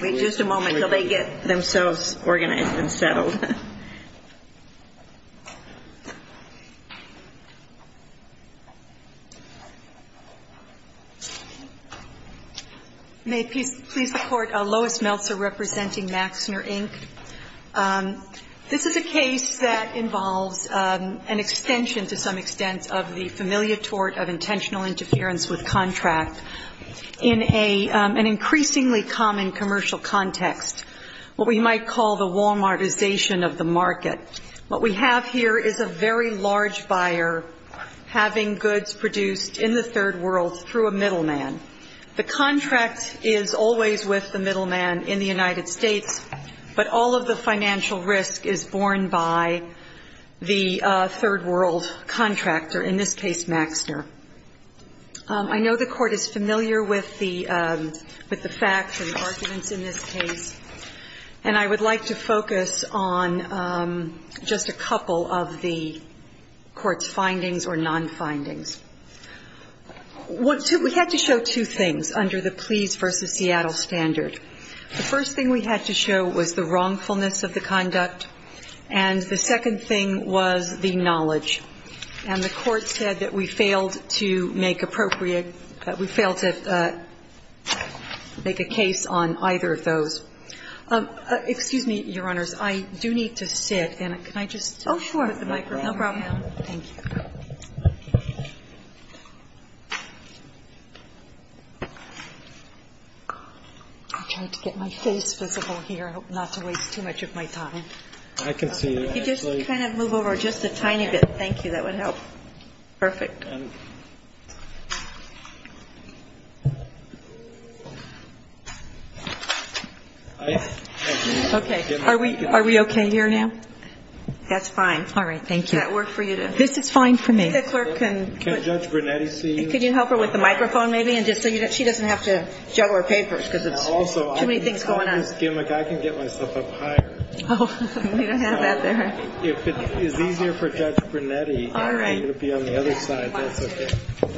Wait just a moment until they get themselves organized and settled. May it please the Court, Lois Meltzer representing Maxner, Inc. This is a case that involves an extension to some extent of the familiar tort of intentional interference with contract in an increasingly common commercial context, what we might call the Walmartization of the market. What we have here is a very large buyer having goods produced in the third world through a middle man. The contract is always with the middle man in the United States, but all of the financial risk is borne by the third world contractor, in this case Maxner. I know the Court is familiar with the facts and arguments in this case, and I would like to focus on just a couple of the Court's findings or non-findings. We had to show two things under the Pleas v. Seattle standard. The first thing we had to show was the wrongfulness of the conduct, and the second thing was the knowledge. And the Court said that we failed to make appropriate – we failed to make a case on either of those. Excuse me, Your Honors, I do need to sit. Can I just take the microphone? No problem. I'm trying to get my face visible here. I hope not to waste too much of my time. You just kind of move over just a tiny bit. Thank you. That would help. Perfect. Okay. Are we okay here now? That's fine. All right. Thank you. Does that work for you? This is fine for me. Can Judge Brunetti see you? Could you help her with the microphone, maybe, just so she doesn't have to juggle her papers, because there's too many things going on. I can get myself up higher. Oh, we don't have that there. If it is easier for Judge Brunetti, it would be on the other side. That's okay.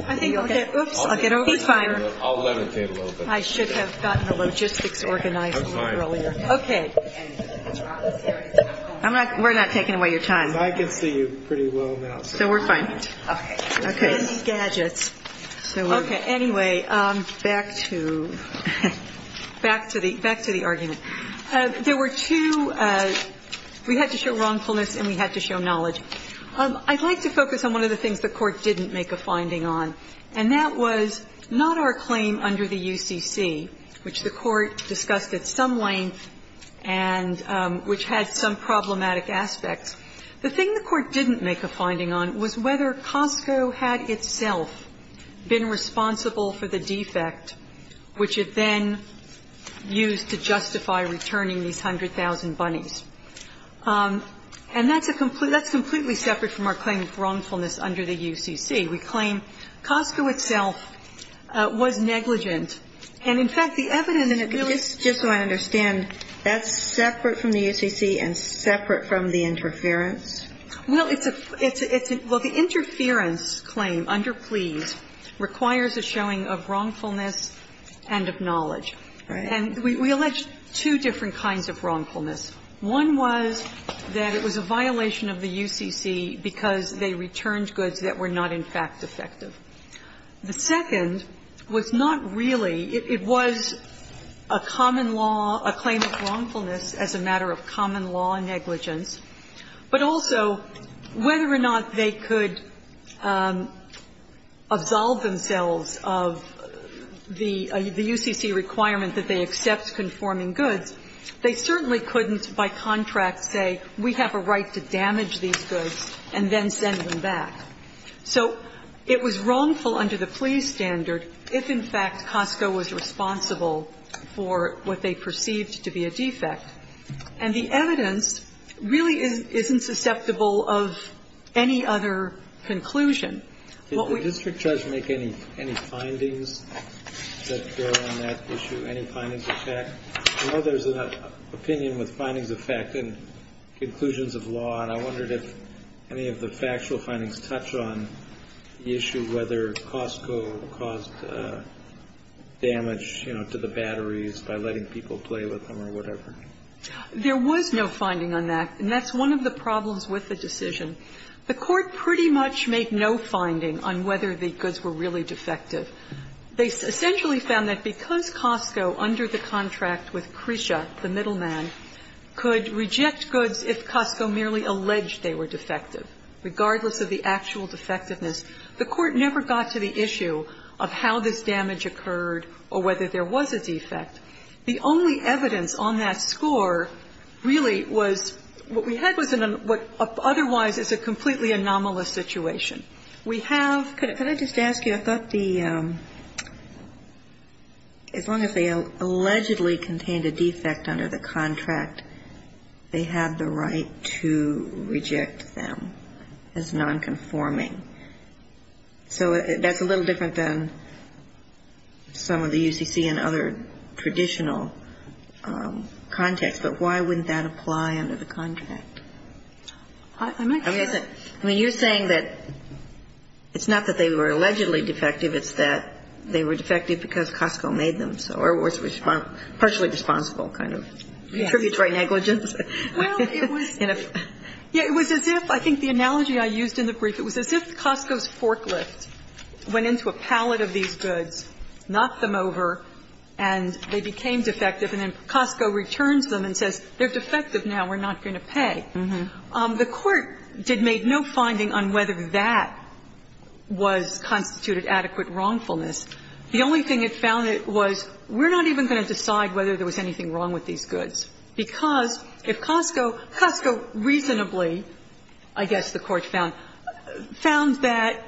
I think I'll get – oops, I'll get over – He's fine. I'll levitate a little bit. I should have gotten the logistics organized a little earlier. That's fine. Okay. We're not taking away your time. I can see you pretty well now. So we're fine. Okay. Okay. We're handy gadgets. Okay. Anyway, back to – back to the argument. There were two – we had to show wrongfulness and we had to show knowledge. I'd like to focus on one of the things the Court didn't make a finding on, and that was not our claim under the UCC, which the Court discussed at some length and which had some problematic aspects. The thing the Court didn't make a finding on was whether Costco had itself been responsible for the defect, which it then used to justify returning these 100,000 bunnies. And that's a – that's completely separate from our claim of wrongfulness under the UCC. We claim Costco itself was negligent. And in fact, the evidence in it really – Just so I understand, that's separate from the UCC and separate from the interference? Well, it's a – it's a – well, the interference claim under Pleas requires a showing of wrongfulness and of knowledge. Right. And we allege two different kinds of wrongfulness. One was that it was a violation of the UCC because they returned goods that were not, in fact, effective. The second was not really – it was a common law – a claim of wrongfulness as a matter of common law negligence. But also, whether or not they could absolve themselves of the UCC requirement that they accept conforming goods, they certainly couldn't by contract say, we have a right to damage these goods and then send them back. So it was wrongful under the Pleas standard if, in fact, Costco was responsible for what they perceived to be a defect. And the evidence really isn't susceptible of any other conclusion. Did the district judge make any findings that go on that issue? Any findings of fact? I know there's an opinion with findings of fact and conclusions of law. And I wondered if any of the factual findings touch on the issue whether Costco caused damage, you know, to the batteries by letting people play with them or whatever. There was no finding on that. And that's one of the problems with the decision. The Court pretty much made no finding on whether the goods were really defective. They essentially found that because Costco, under the contract with Cresha, the middleman, could reject goods if Costco merely alleged they were defective, regardless of the actual defectiveness, the Court never got to the issue of how this damage occurred or whether there was a defect. The only evidence on that score really was what we had was what otherwise is a completely anomalous situation. We have ‑‑ Could I just ask you? I thought the ‑‑ as long as they allegedly contained a defect under the contract, they had the right to reject them as nonconforming. So that's a little different than some of the UCC and other traditional context. But why wouldn't that apply under the contract? I'm not sure. I mean, you're saying that it's not that they were allegedly defective. It's that they were defective because Costco made them. So Air Wars was partially responsible kind of tributary negligence. Yes. Well, it was ‑‑ The analogy I used in the brief, it was as if Costco's forklift went into a pallet of these goods, knocked them over, and they became defective, and then Costco returns them and says, they're defective now, we're not going to pay. The Court did make no finding on whether that was constituted adequate wrongfulness. The only thing it found was we're not even going to decide whether there was anything wrong with these goods, because if Costco reasonably, I guess the Court found, found that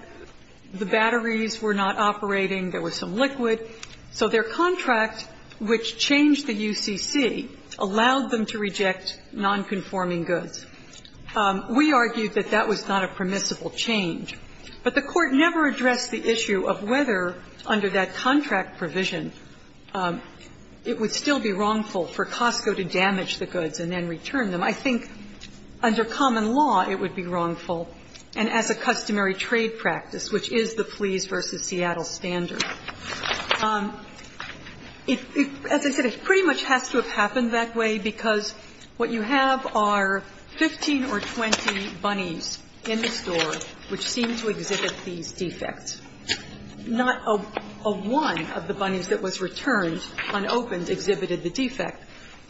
the batteries were not operating, there was some liquid, so their contract, which changed the UCC, allowed them to reject nonconforming goods. We argued that that was not a permissible change. But the Court never addressed the issue of whether under that contract provision it would still be wrongful for Costco to damage the goods and then return them. I think under common law it would be wrongful, and as a customary trade practice, which is the Fleas v. Seattle standard. As I said, it pretty much has to have happened that way because what you have are 15 or 20 bunnies in the store which seem to exhibit these defects, not a one of the bunnies that was returned, unopened, exhibited the defect.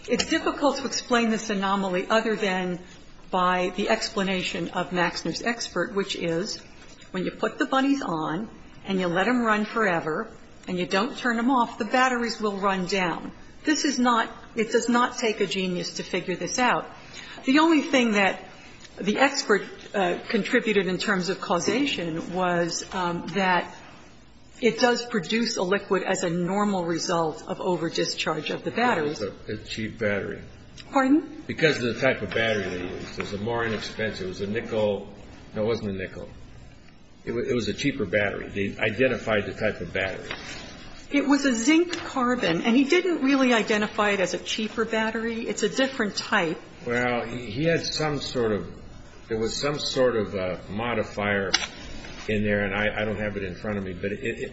It's difficult to explain this anomaly other than by the explanation of Maxner's expert, which is when you put the bunnies on and you let them run forever and you don't turn them off, the batteries will run down. This is not – it does not take a genius to figure this out. The only thing that the expert contributed in terms of causation was that it does not produce a liquid as a normal result of overdischarge of the batteries. It was a cheap battery. Pardon? Because of the type of battery they used. It was more inexpensive. It was a nickel. No, it wasn't a nickel. It was a cheaper battery. They identified the type of battery. It was a zinc carbon, and he didn't really identify it as a cheaper battery. It's a different type. Well, he had some sort of – there was some sort of modifier in there, and I don't have it in front of me, but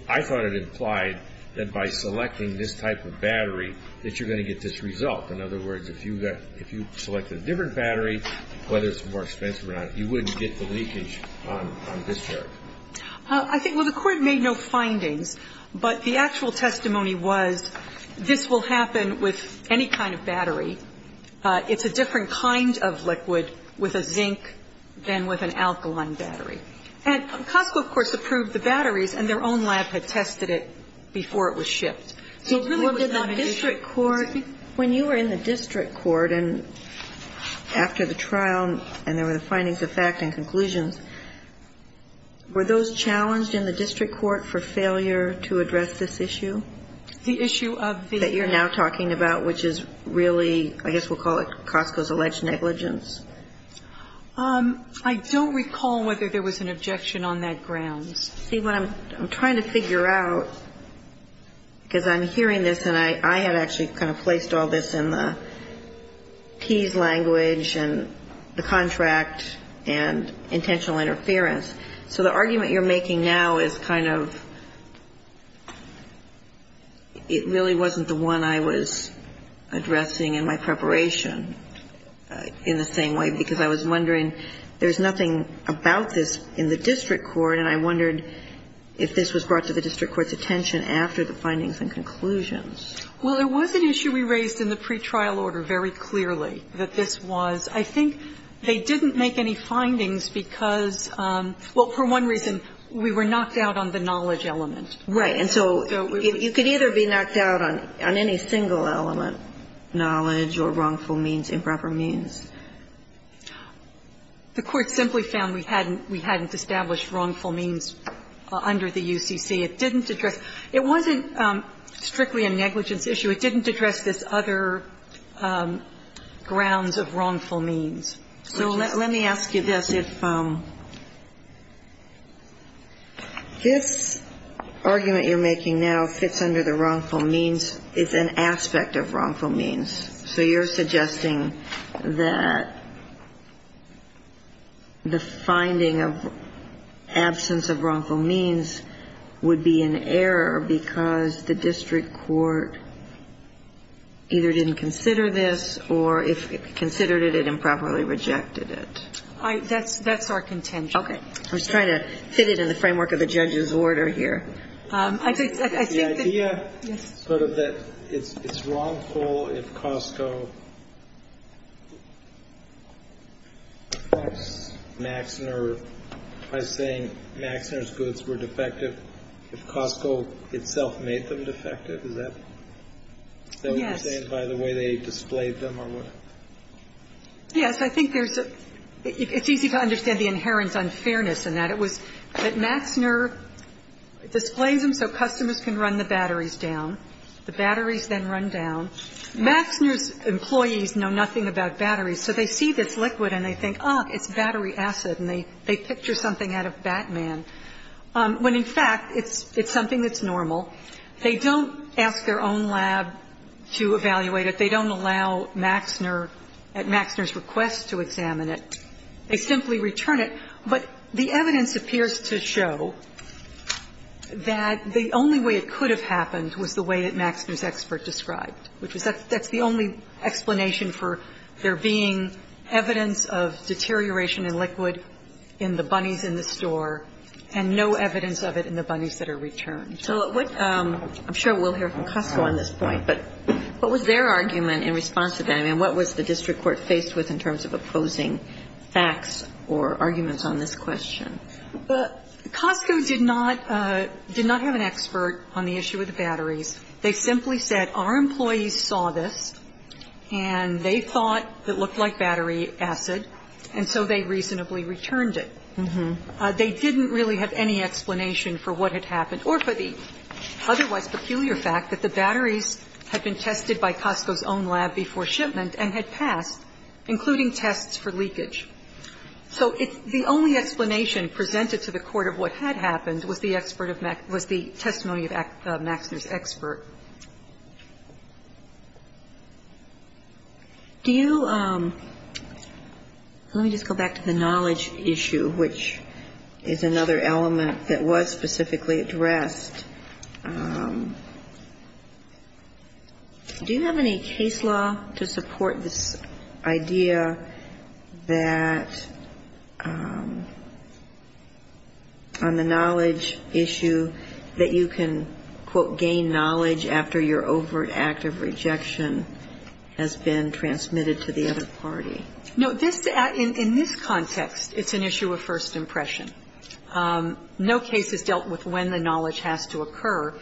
I thought it implied that by selecting this type of battery that you're going to get this result. In other words, if you selected a different battery, whether it's more expensive or not, you wouldn't get the leakage on discharge. I think – well, the Court made no findings, but the actual testimony was this will happen with any kind of battery. It's a different kind of liquid with a zinc than with an alkaline battery. And Costco, of course, approved the batteries, and their own lab had tested it before it was shipped. So it really was not an issue. But did the district court – when you were in the district court and after the trial and there were the findings of fact and conclusions, were those challenged in the district court for failure to address this issue? The issue of the – That you're now talking about, which is really, I guess we'll call it Costco's alleged negligence. I don't recall whether there was an objection on that grounds. See, what I'm – I'm trying to figure out, because I'm hearing this and I had actually kind of placed all this in the P's language and the contract and intentional interference. So the argument you're making now is kind of – it really wasn't the one I was wondering. There was nothing about this in the district court, and I wondered if this was brought to the district court's attention after the findings and conclusions. Well, there was an issue we raised in the pretrial order very clearly that this was – I think they didn't make any findings because – well, for one reason, we were knocked out on the knowledge element. Right. And so you could either be knocked out on any single element, knowledge or wrongful means, improper means. The court simply found we hadn't – we hadn't established wrongful means under the UCC. It didn't address – it wasn't strictly a negligence issue. It didn't address this other grounds of wrongful means. So let me ask you this. If this argument you're making now fits under the wrongful means, it's an aspect of wrongful means. So you're suggesting that the finding of absence of wrongful means would be an error because the district court either didn't consider this or if it considered it, it improperly rejected it. That's our contention. Okay. I'm just trying to fit it in the framework of the judge's order here. The idea sort of that it's wrongful if Costco affects Maxner by saying Maxner's goods were defective if Costco itself made them defective, is that what you're saying by the way they displayed them or what? Yes. I think there's a – it's easy to understand the inherent unfairness in that. It was that Maxner displays them so customers can run the batteries down. The batteries then run down. Maxner's employees know nothing about batteries, so they see this liquid and they think, oh, it's battery acid, and they picture something out of Batman, when in fact it's something that's normal. They don't ask their own lab to evaluate it. They don't allow Maxner at Maxner's request to examine it. They simply return it. But the evidence appears to show that the only way it could have happened was the way that Maxner's expert described, which is that's the only explanation for there being evidence of deterioration in liquid in the bunnies in the store and no evidence of it in the bunnies that are returned. So what – I'm sure we'll hear from Costco on this point, but what was their argument in response to that? I mean, what was the district court faced with in terms of opposing facts or arguments on this question? Costco did not – did not have an expert on the issue of the batteries. They simply said our employees saw this and they thought it looked like battery acid, and so they reasonably returned it. They didn't really have any explanation for what had happened or for the otherwise peculiar fact that the batteries had been tested by Costco's own lab before shipment and had passed, including tests for leakage. So the only explanation presented to the court of what had happened was the expert of – was the testimony of Maxner's expert. Do you – let me just go back to the knowledge issue, which is another element that was specifically addressed. Do you have any case law to support this idea that on the knowledge issue that you can, quote, gain knowledge after your overt act of rejection has been transmitted to the other party? No. This – in this context, it's an issue of first impression. No case has dealt with when the knowledge has to occur.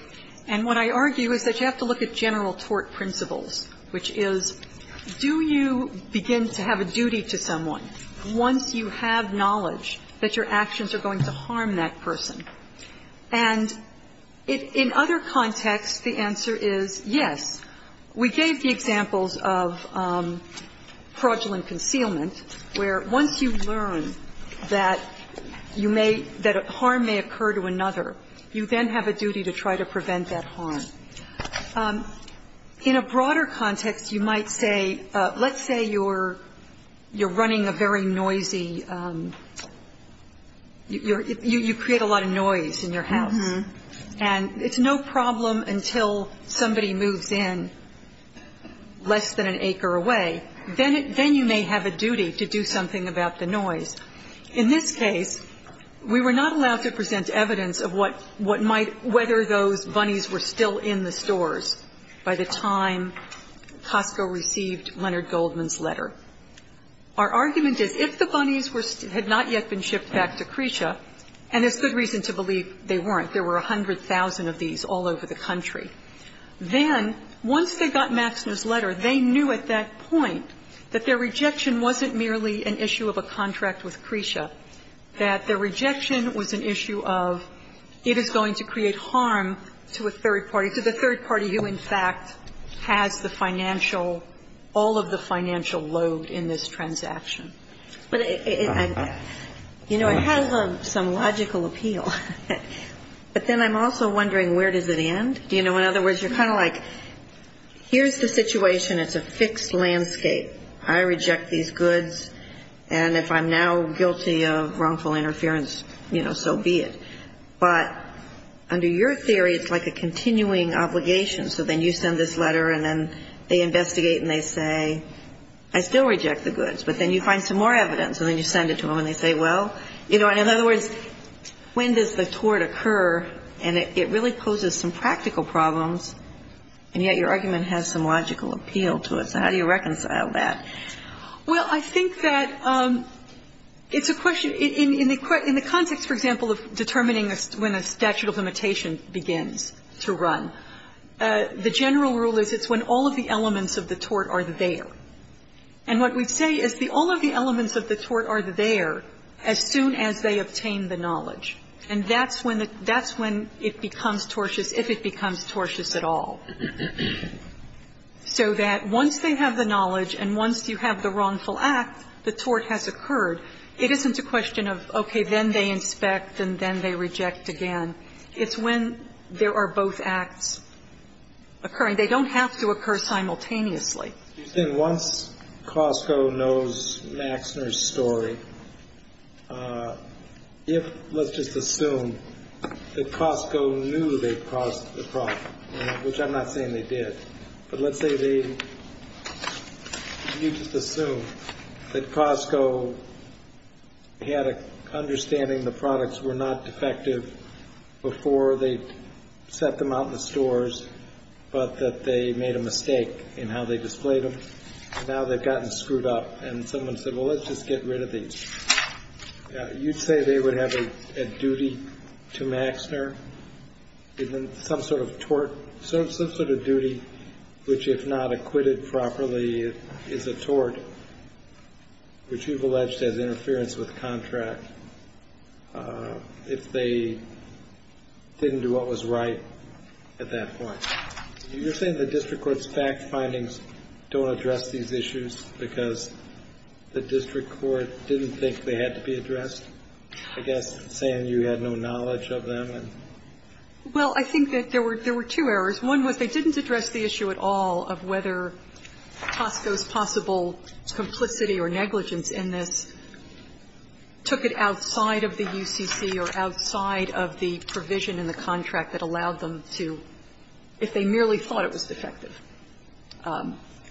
And what I argue is that you have to look at general tort principles, which is do you begin to have a duty to someone once you have knowledge that your actions are going to harm that person? And in other contexts, the answer is yes. We gave the examples of fraudulent concealment, where once you learn that you may – that harm may occur to another, you then have a duty to try to prevent that harm. In a broader context, you might say, let's say you're running a very noisy – you create a lot of noise in your house. Uh-huh. And it's no problem until somebody moves in less than an acre away. Then you may have a duty to do something about the noise. In this case, we were not allowed to present evidence of what might – whether those bunnies were still in the stores by the time Costco received Leonard Goldman's letter. Our argument is if the bunnies had not yet been shipped back to Cretia, and there's good reason to believe they weren't. There were 100,000 of these all over the country. Then, once they got Maxner's letter, they knew at that point that their rejection wasn't merely an issue of a contract with Cretia, that their rejection was an issue of it is going to create harm to a third party, to the third party who, in fact, has the financial – all of the financial load in this transaction. But it – you know, it has some logical appeal. But then I'm also wondering where does it end? You know, in other words, you're kind of like, here's the situation. It's a fixed landscape. I reject these goods, and if I'm now guilty of wrongful interference, you know, so be it. But under your theory, it's like a continuing obligation. So then you send this letter, and then they investigate, and they say, I still reject the goods. But then you find some more evidence, and then you send it to them, and they say, well, you know, and in other words, when does the tort occur? And it really poses some practical problems, and yet your argument has some logical appeal to it. So how do you reconcile that? Well, I think that it's a question – in the context, for example, of determining when a statute of limitation begins to run, the general rule is it's when all of the elements of the tort are there. And what we say is all of the elements of the tort are there as soon as they obtain the knowledge. And that's when it becomes tortious, if it becomes tortious at all. So that once they have the knowledge and once you have the wrongful act, the tort has occurred. It isn't a question of, okay, then they inspect and then they reject again. It's when there are both acts occurring. They don't have to occur simultaneously. Excuse me. Once Costco knows Maxner's story, if – let's just assume that Costco knew they caused the problem, which I'm not saying they did, but let's say they – you just assume that Costco had an understanding the products were not defective before they set them out in the stores, but that they made a mistake in how they displayed them. Now they've gotten screwed up, and someone said, well, let's just get rid of these. You'd say they would have a duty to Maxner, some sort of tort – some sort of duty, which if not acquitted properly is a tort, which you've alleged has interference with contract. So you're saying that if they didn't do what was right at that point. You're saying the district court's fact findings don't address these issues because the district court didn't think they had to be addressed? I guess saying you had no knowledge of them and – Well, I think that there were two errors. One was they didn't address the issue at all of whether Costco's possible complicity or negligence in this took it outside of the UCC or outside of the provision in the contract that allowed them to, if they merely thought it was defective,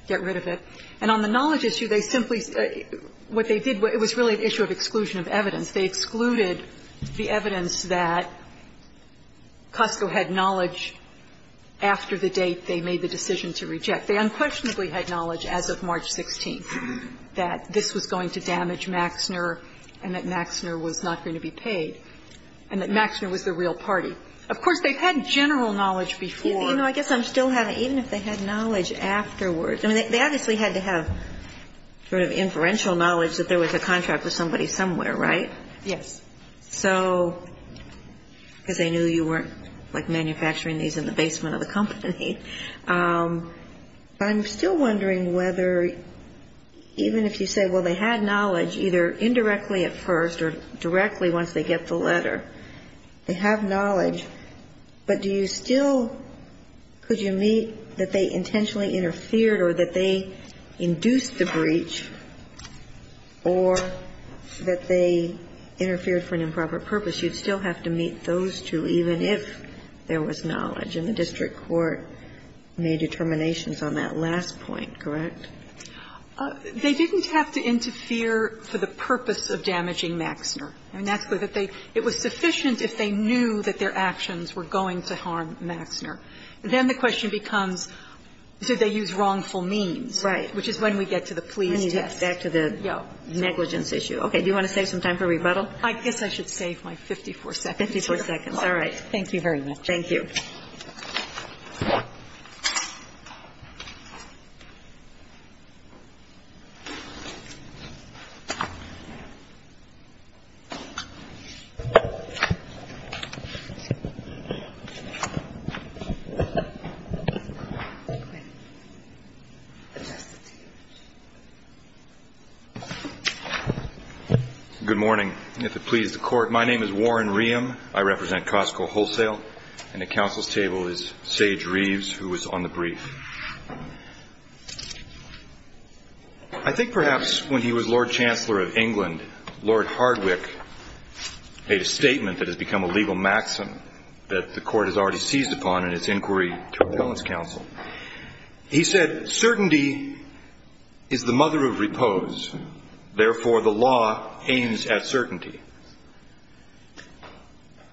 get rid of it. And on the knowledge issue, they simply – what they did, it was really an issue of exclusion of evidence. They excluded the evidence that Costco had knowledge after the date they made the decision to reject. They unquestionably had knowledge as of March 16th that this was going to damage Maxner and that Maxner was not going to be paid and that Maxner was the real party. Of course, they had general knowledge before. You know, I guess I'm still having – even if they had knowledge afterwards – I mean, they obviously had to have sort of inferential knowledge that there was a contract with somebody somewhere, right? Yes. I'm still wondering whether even if you say, well, they had knowledge either indirectly at first or directly once they get the letter, they have knowledge, but do you still – could you meet that they intentionally interfered or that they induced the breach or that they interfered for an improper purpose? You'd still have to meet those two even if there was knowledge. And the district court made determinations on that last point, correct? They didn't have to interfere for the purpose of damaging Maxner. I mean, that's where that they – it was sufficient if they knew that their actions were going to harm Maxner. Then the question becomes, did they use wrongful means? Right. Which is when we get to the plea test. When you get back to the negligence issue. Do you want to save some time for rebuttal? I guess I should save my 54 seconds. 54 seconds. All right. Thank you very much. Good morning. If it pleases the court, my name is Warren Ream. I represent Costco Wholesale. And at counsel's table is Sage Reeves, who was on the brief. I think perhaps when he was Lord Chancellor of England, Lord Hardwick made a statement that has become a legal maxim that the court has already seized upon in its inquiry to Appellant's counsel. He said,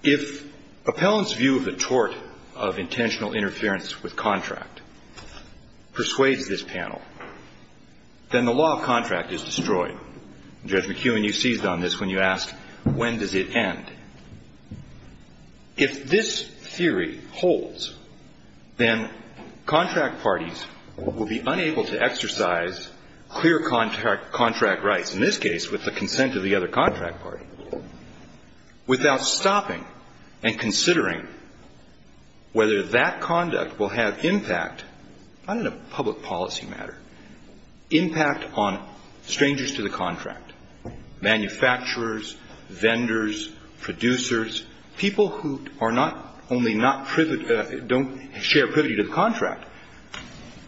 If Appellant's view of the tort of intentional interference with contract persuades this panel, then the law of contract is destroyed. Judge McEwen, you seized on this when you asked, when does it end? If this theory holds, then contract parties will be able to use the law of contract to exercise clear contract rights, in this case with the consent of the other contract party, without stopping and considering whether that conduct will have impact, not in a public policy matter, impact on strangers to the contract, manufacturers, vendors, producers, people who are not only not privy, don't share privity to the contract,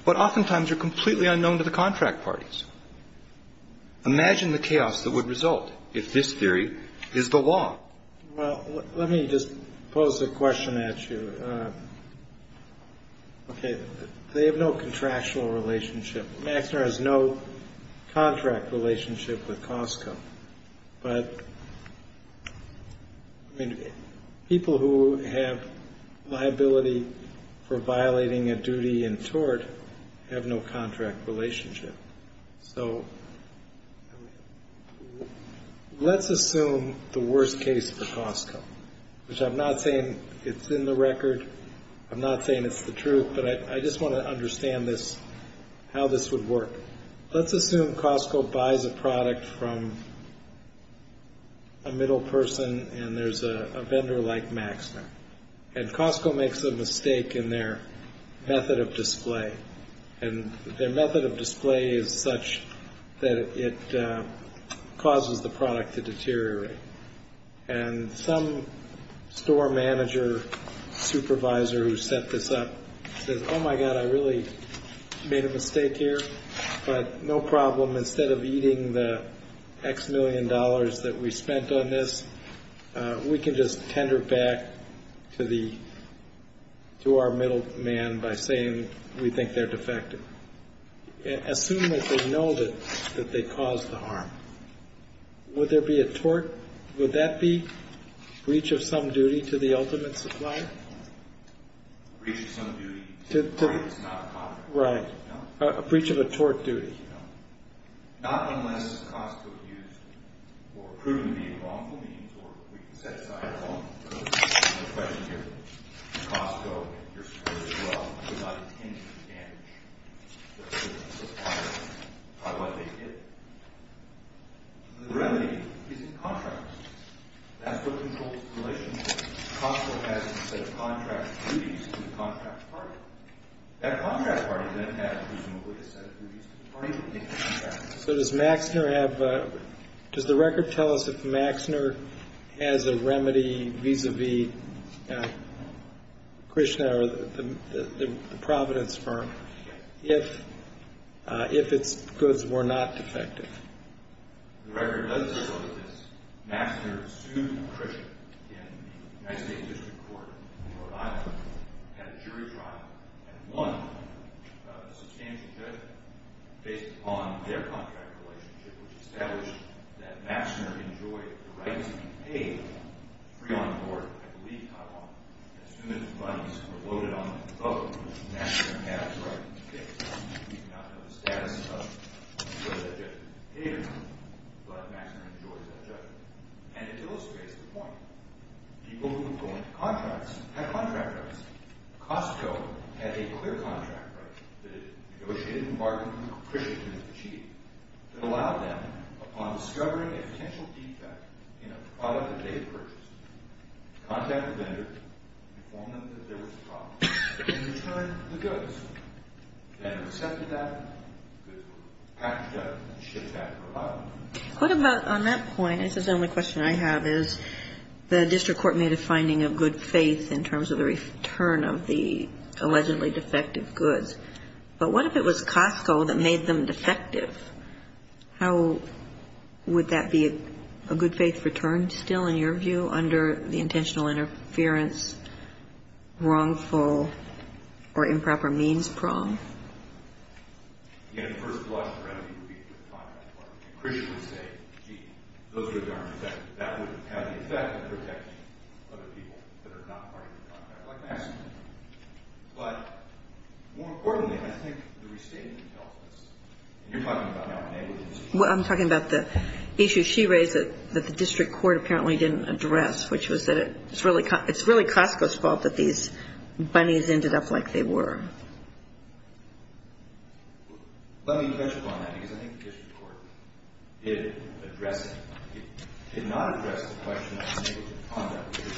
but oftentimes are completely unknown to the contract parties. Imagine the chaos that would result if this theory is the law. Well, let me just pose a question at you. Okay. They have no contractual relationship. Maxner has no contract relationship with Costco. But people who have liability for violating a duty in tort have no contract relationship. So let's assume the worst case for Costco, which I'm not saying it's in the record. I'm not saying it's the truth. But I just want to understand this, how this would work. Let's assume Costco buys a product from a middle person, and there's a vendor like Maxner. And Costco makes a mistake in their method of display. And their method of display is such that it causes the product to deteriorate. And some store manager, supervisor who set this up says, Oh, my God, I really made a mistake here. But no problem, instead of eating the X million dollars that we spent on this, we can just tender back to our middle man by saying we think they're defective. Assume that they know that they caused the harm. Would there be a tort? Would that be breach of some duty to the ultimate supplier? Breach of some duty is not a contract. Right. A breach of a tort duty. Not unless Costco used or proven to be a wrongful means, or we can set aside a wrongful means. The question here is Costco, your store as well, did not intend to damage the supplier by what they did. The remedy is a contract. That's what controls the relationship. Costco has a set of contract duties to the contract party. That contract party then has reasonably a set of duties to the party that makes the contract. So does Maxner have a – does the record tell us if Maxner has a remedy vis-a-vis Krishna or the Providence firm? Yes. If its goods were not defective? The record does tell us this. Maxner sued Krishna in the United States District Court in Rhode Island. Had a jury trial and won a substantial judgment based upon their contract relationship, which established that Maxner enjoyed the right to be paid free on the court, I believe, not wrong. As soon as the monies were loaded on the boat, Maxner had the right to pay. We do not know the status of whether that judgment was paid or not, but Maxner enjoys that judgment. And it illustrates the point. People who own contracts have contract rights. Costco had a clear contract right that it negotiated and bargained with Krishna to achieve, that allowed them, upon discovering a potential defect in a product that they had purchased, to contact the vendor, inform them that there was a problem, and return the goods. The vendor accepted that, the package got shipped back to Rhode Island. What about on that point, this is the only question I have, is the district court made a finding of good faith in terms of the return of the allegedly defective goods. But what if it was Costco that made them defective? How would that be a good faith return still, in your view, under the intentional interference, wrongful or improper means problem? Again, the first blush of remedy would be through the contract department. And Krishna would say, gee, those goods aren't defective. That would have the effect of protecting other people that are not part of the contract, like Maxner. But, more importantly, I think the restating would help us. And you're talking about now negligence. Well, I'm talking about the issue she raised that the district court apparently didn't address, which was that it's really Costco's fault that these bunnies ended up like they were. Let me touch upon that, because I think the district court did address it. It did not address the question of negligent conduct, which is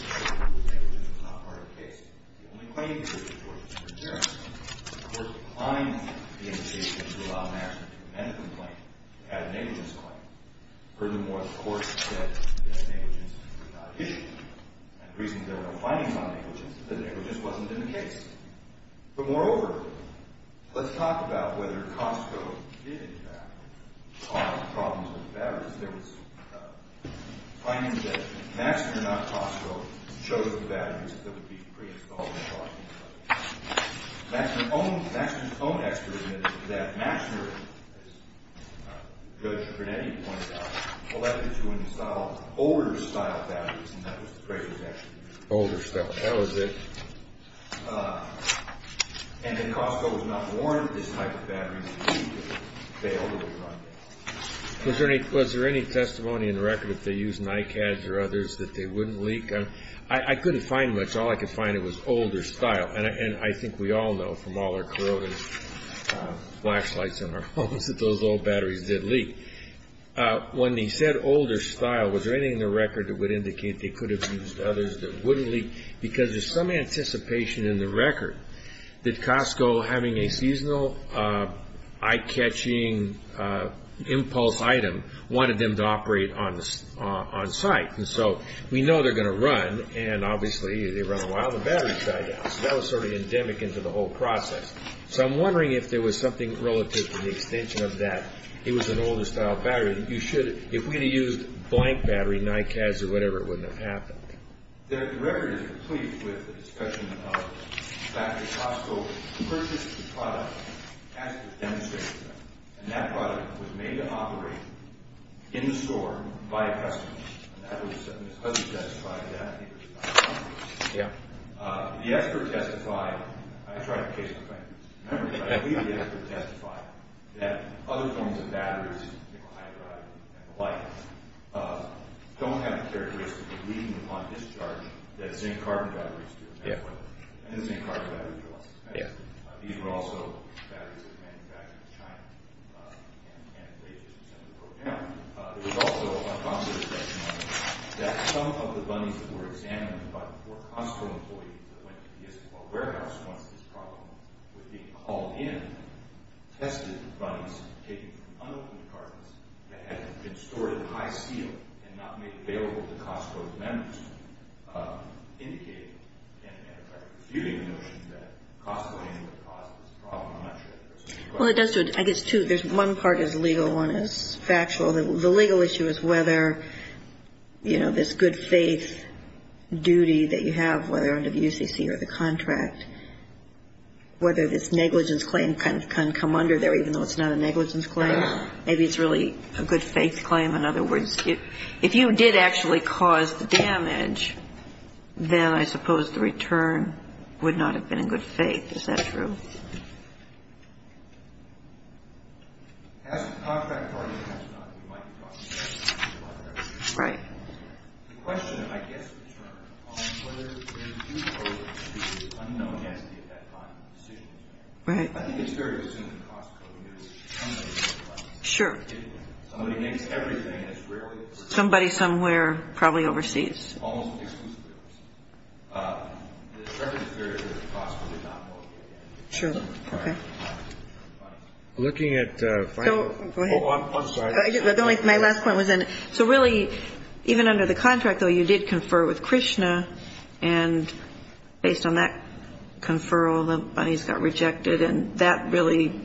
negligence was not part of the case. The only claim the district court was concerned with, the court declined the invitation to allow Maxner to amend the complaint to add a negligence claim. Furthermore, the court said that negligence was not an issue. And the reason there were no findings on negligence is that negligence wasn't in the case. But, moreover, let's talk about whether Costco did, in fact, solve the problems with the batteries. There was findings that Maxner, not Costco, chose the batteries that would be pre-installed in the car. Maxner's own expert admitted that Maxner, as Judge Brunetti pointed out, elected to install older-style batteries, and that was the phrase that was actually used. Older-style, that was it. And that Costco was not warned that this type of battery would fail to run. Was there any testimony in the record, if they used Nikads or others, that they wouldn't leak? I couldn't find much. All I could find was older-style. And I think we all know from all our corroded flashlights in our homes that those old batteries did leak. When he said older-style, was there anything in the record that would indicate they could have used others that wouldn't leak? Because there's some anticipation in the record that Costco, having a seasonal eye-catching impulse item, wanted them to operate on-site. And so we know they're going to run, and obviously they run a while, and the batteries die down. So that was sort of endemic into the whole process. So I'm wondering if there was something relative to the extension of that. It was an older-style battery. If we had used blank battery, Nikads or whatever, it wouldn't have happened. The record is complete with the discussion of the fact that Costco purchased the product, and the experts demonstrated that, and that product was made to operate in the store by a customer. And his husband testified to that. Yeah. The expert testified, and I tried to case the claimant, but I believe the expert testified, that other forms of batteries, you know, hydride and the like, don't have the characteristics of leaking upon discharge that zinc-carbon batteries do. And the zinc-carbon batteries are less expensive. These were also batteries that were manufactured in China, and they just simply broke down. There was also a consideration that some of the bunnies that were examined by the four Costco employees that went to the Istanbul warehouse once this problem was being called in tested the bunnies taken from unopened cartons that had been stored in high steel and not made available to Costco's members, indicating and refuting the notion that Costco anyway caused this problem. I'm not sure. Well, it does to it. I guess, too, there's one part is legal and one is factual. The legal issue is whether, you know, this good faith duty that you have, whether under the UCC or the contract, whether this negligence claim can come under there even though it's not a negligence claim. Maybe it's really a good faith claim. In other words, if you did actually cause the damage, then I suppose the return would not have been in good faith. Is that true? Right. Right. Sure. Somebody somewhere probably overseas. Sure. Okay. Looking at the final. Go ahead. I'm sorry. My last point was in. So really, even under the contract, though, you did confer with Krishna. And based on that conferral, the bunnies got rejected. And that really,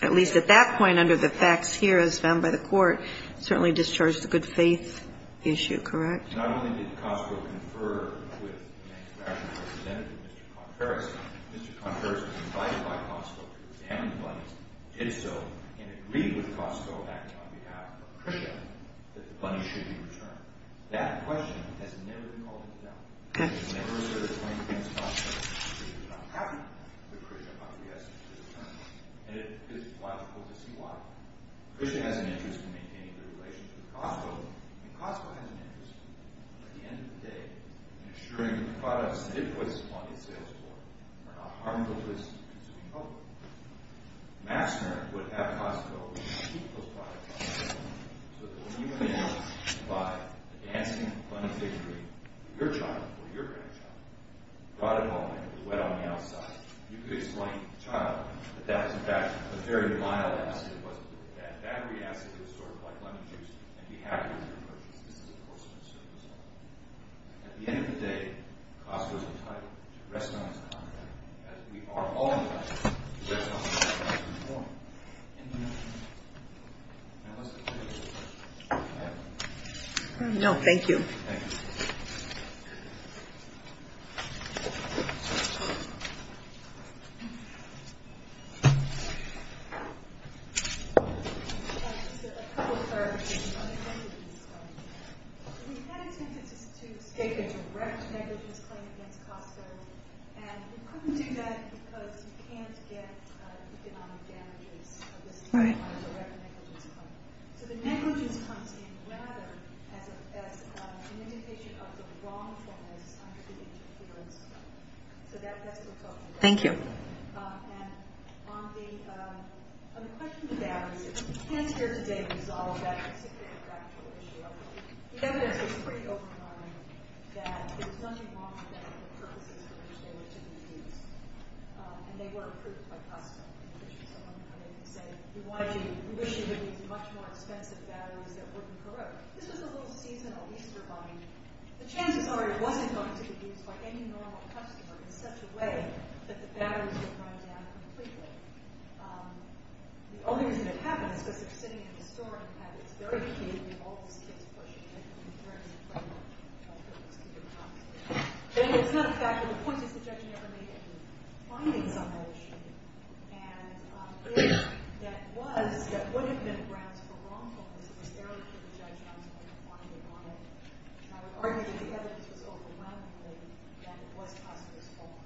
at least at that point under the facts here as found by the Court, certainly discharged the good faith issue, correct? Not only did Cosco confer with the national representative, Mr. Conferis. Mr. Conferis was invited by Cosco to examine the bunnies, did so, and agreed with Cosco acting on behalf of Krishna that the bunnies should be returned. That question has never been called into doubt. It was never asserted against Cosco. Krishna is not happy with Krishna. And it is logical to see why. Krishna has an interest in maintaining the relations with Cosco, and Cosco has an interest, at the end of the day, in ensuring that the products that it puts upon its sales floor are not harmful to its consuming public. Massner would have Cosco keep those products on the table so that when you went out to buy a dancing bunny fig tree, your child or your grandchild brought it home and it was wet on the outside. You could explain to the child that that was in fact a very mild acid. It wasn't really bad. That bad acid was sort of like lemon juice. And he had it with him when he purchased it. This is, of course, a concern of his own. At the end of the day, Cosco is entitled to rest on its condolences, as we are all entitled to rest on our condolences for him. Any questions? Now let's continue with the questions. I have one. No, thank you. Thank you. Just a couple of clarification on the negligence claim. We had intended to state a direct negligence claim against Cosco, and we couldn't do that because you can't get economic damages for this direct negligence claim. So the negligence comes in rather as an indication of the wrongfulness of the interference. So that's what we're talking about. Thank you. And on the question of batteries, if we can't here today resolve that particular factual issue, the evidence was pretty open-minded that there was nothing wrong with batteries for purposes for which they were to be used, and they were approved by Cosco, in which someone came in and said, we wish you would use much more expensive batteries that wouldn't corrode. This was a little seasonal Easter Bunny. The chances are it wasn't going to be used by any normal customer in such a way that the batteries would run down completely. The only reason it happened is because it's sitting in the store, and in fact it's very key to all these kids pushing it in terms of bringing their kids to different hospitals. It's not a fact, but the point is the judge never made any findings on that issue, and if that was, that would have been grounds for wrongfulness, it was there for the judge not to make a finding on it. And I would argue that the evidence was overwhelmingly that it was Cosco's fault.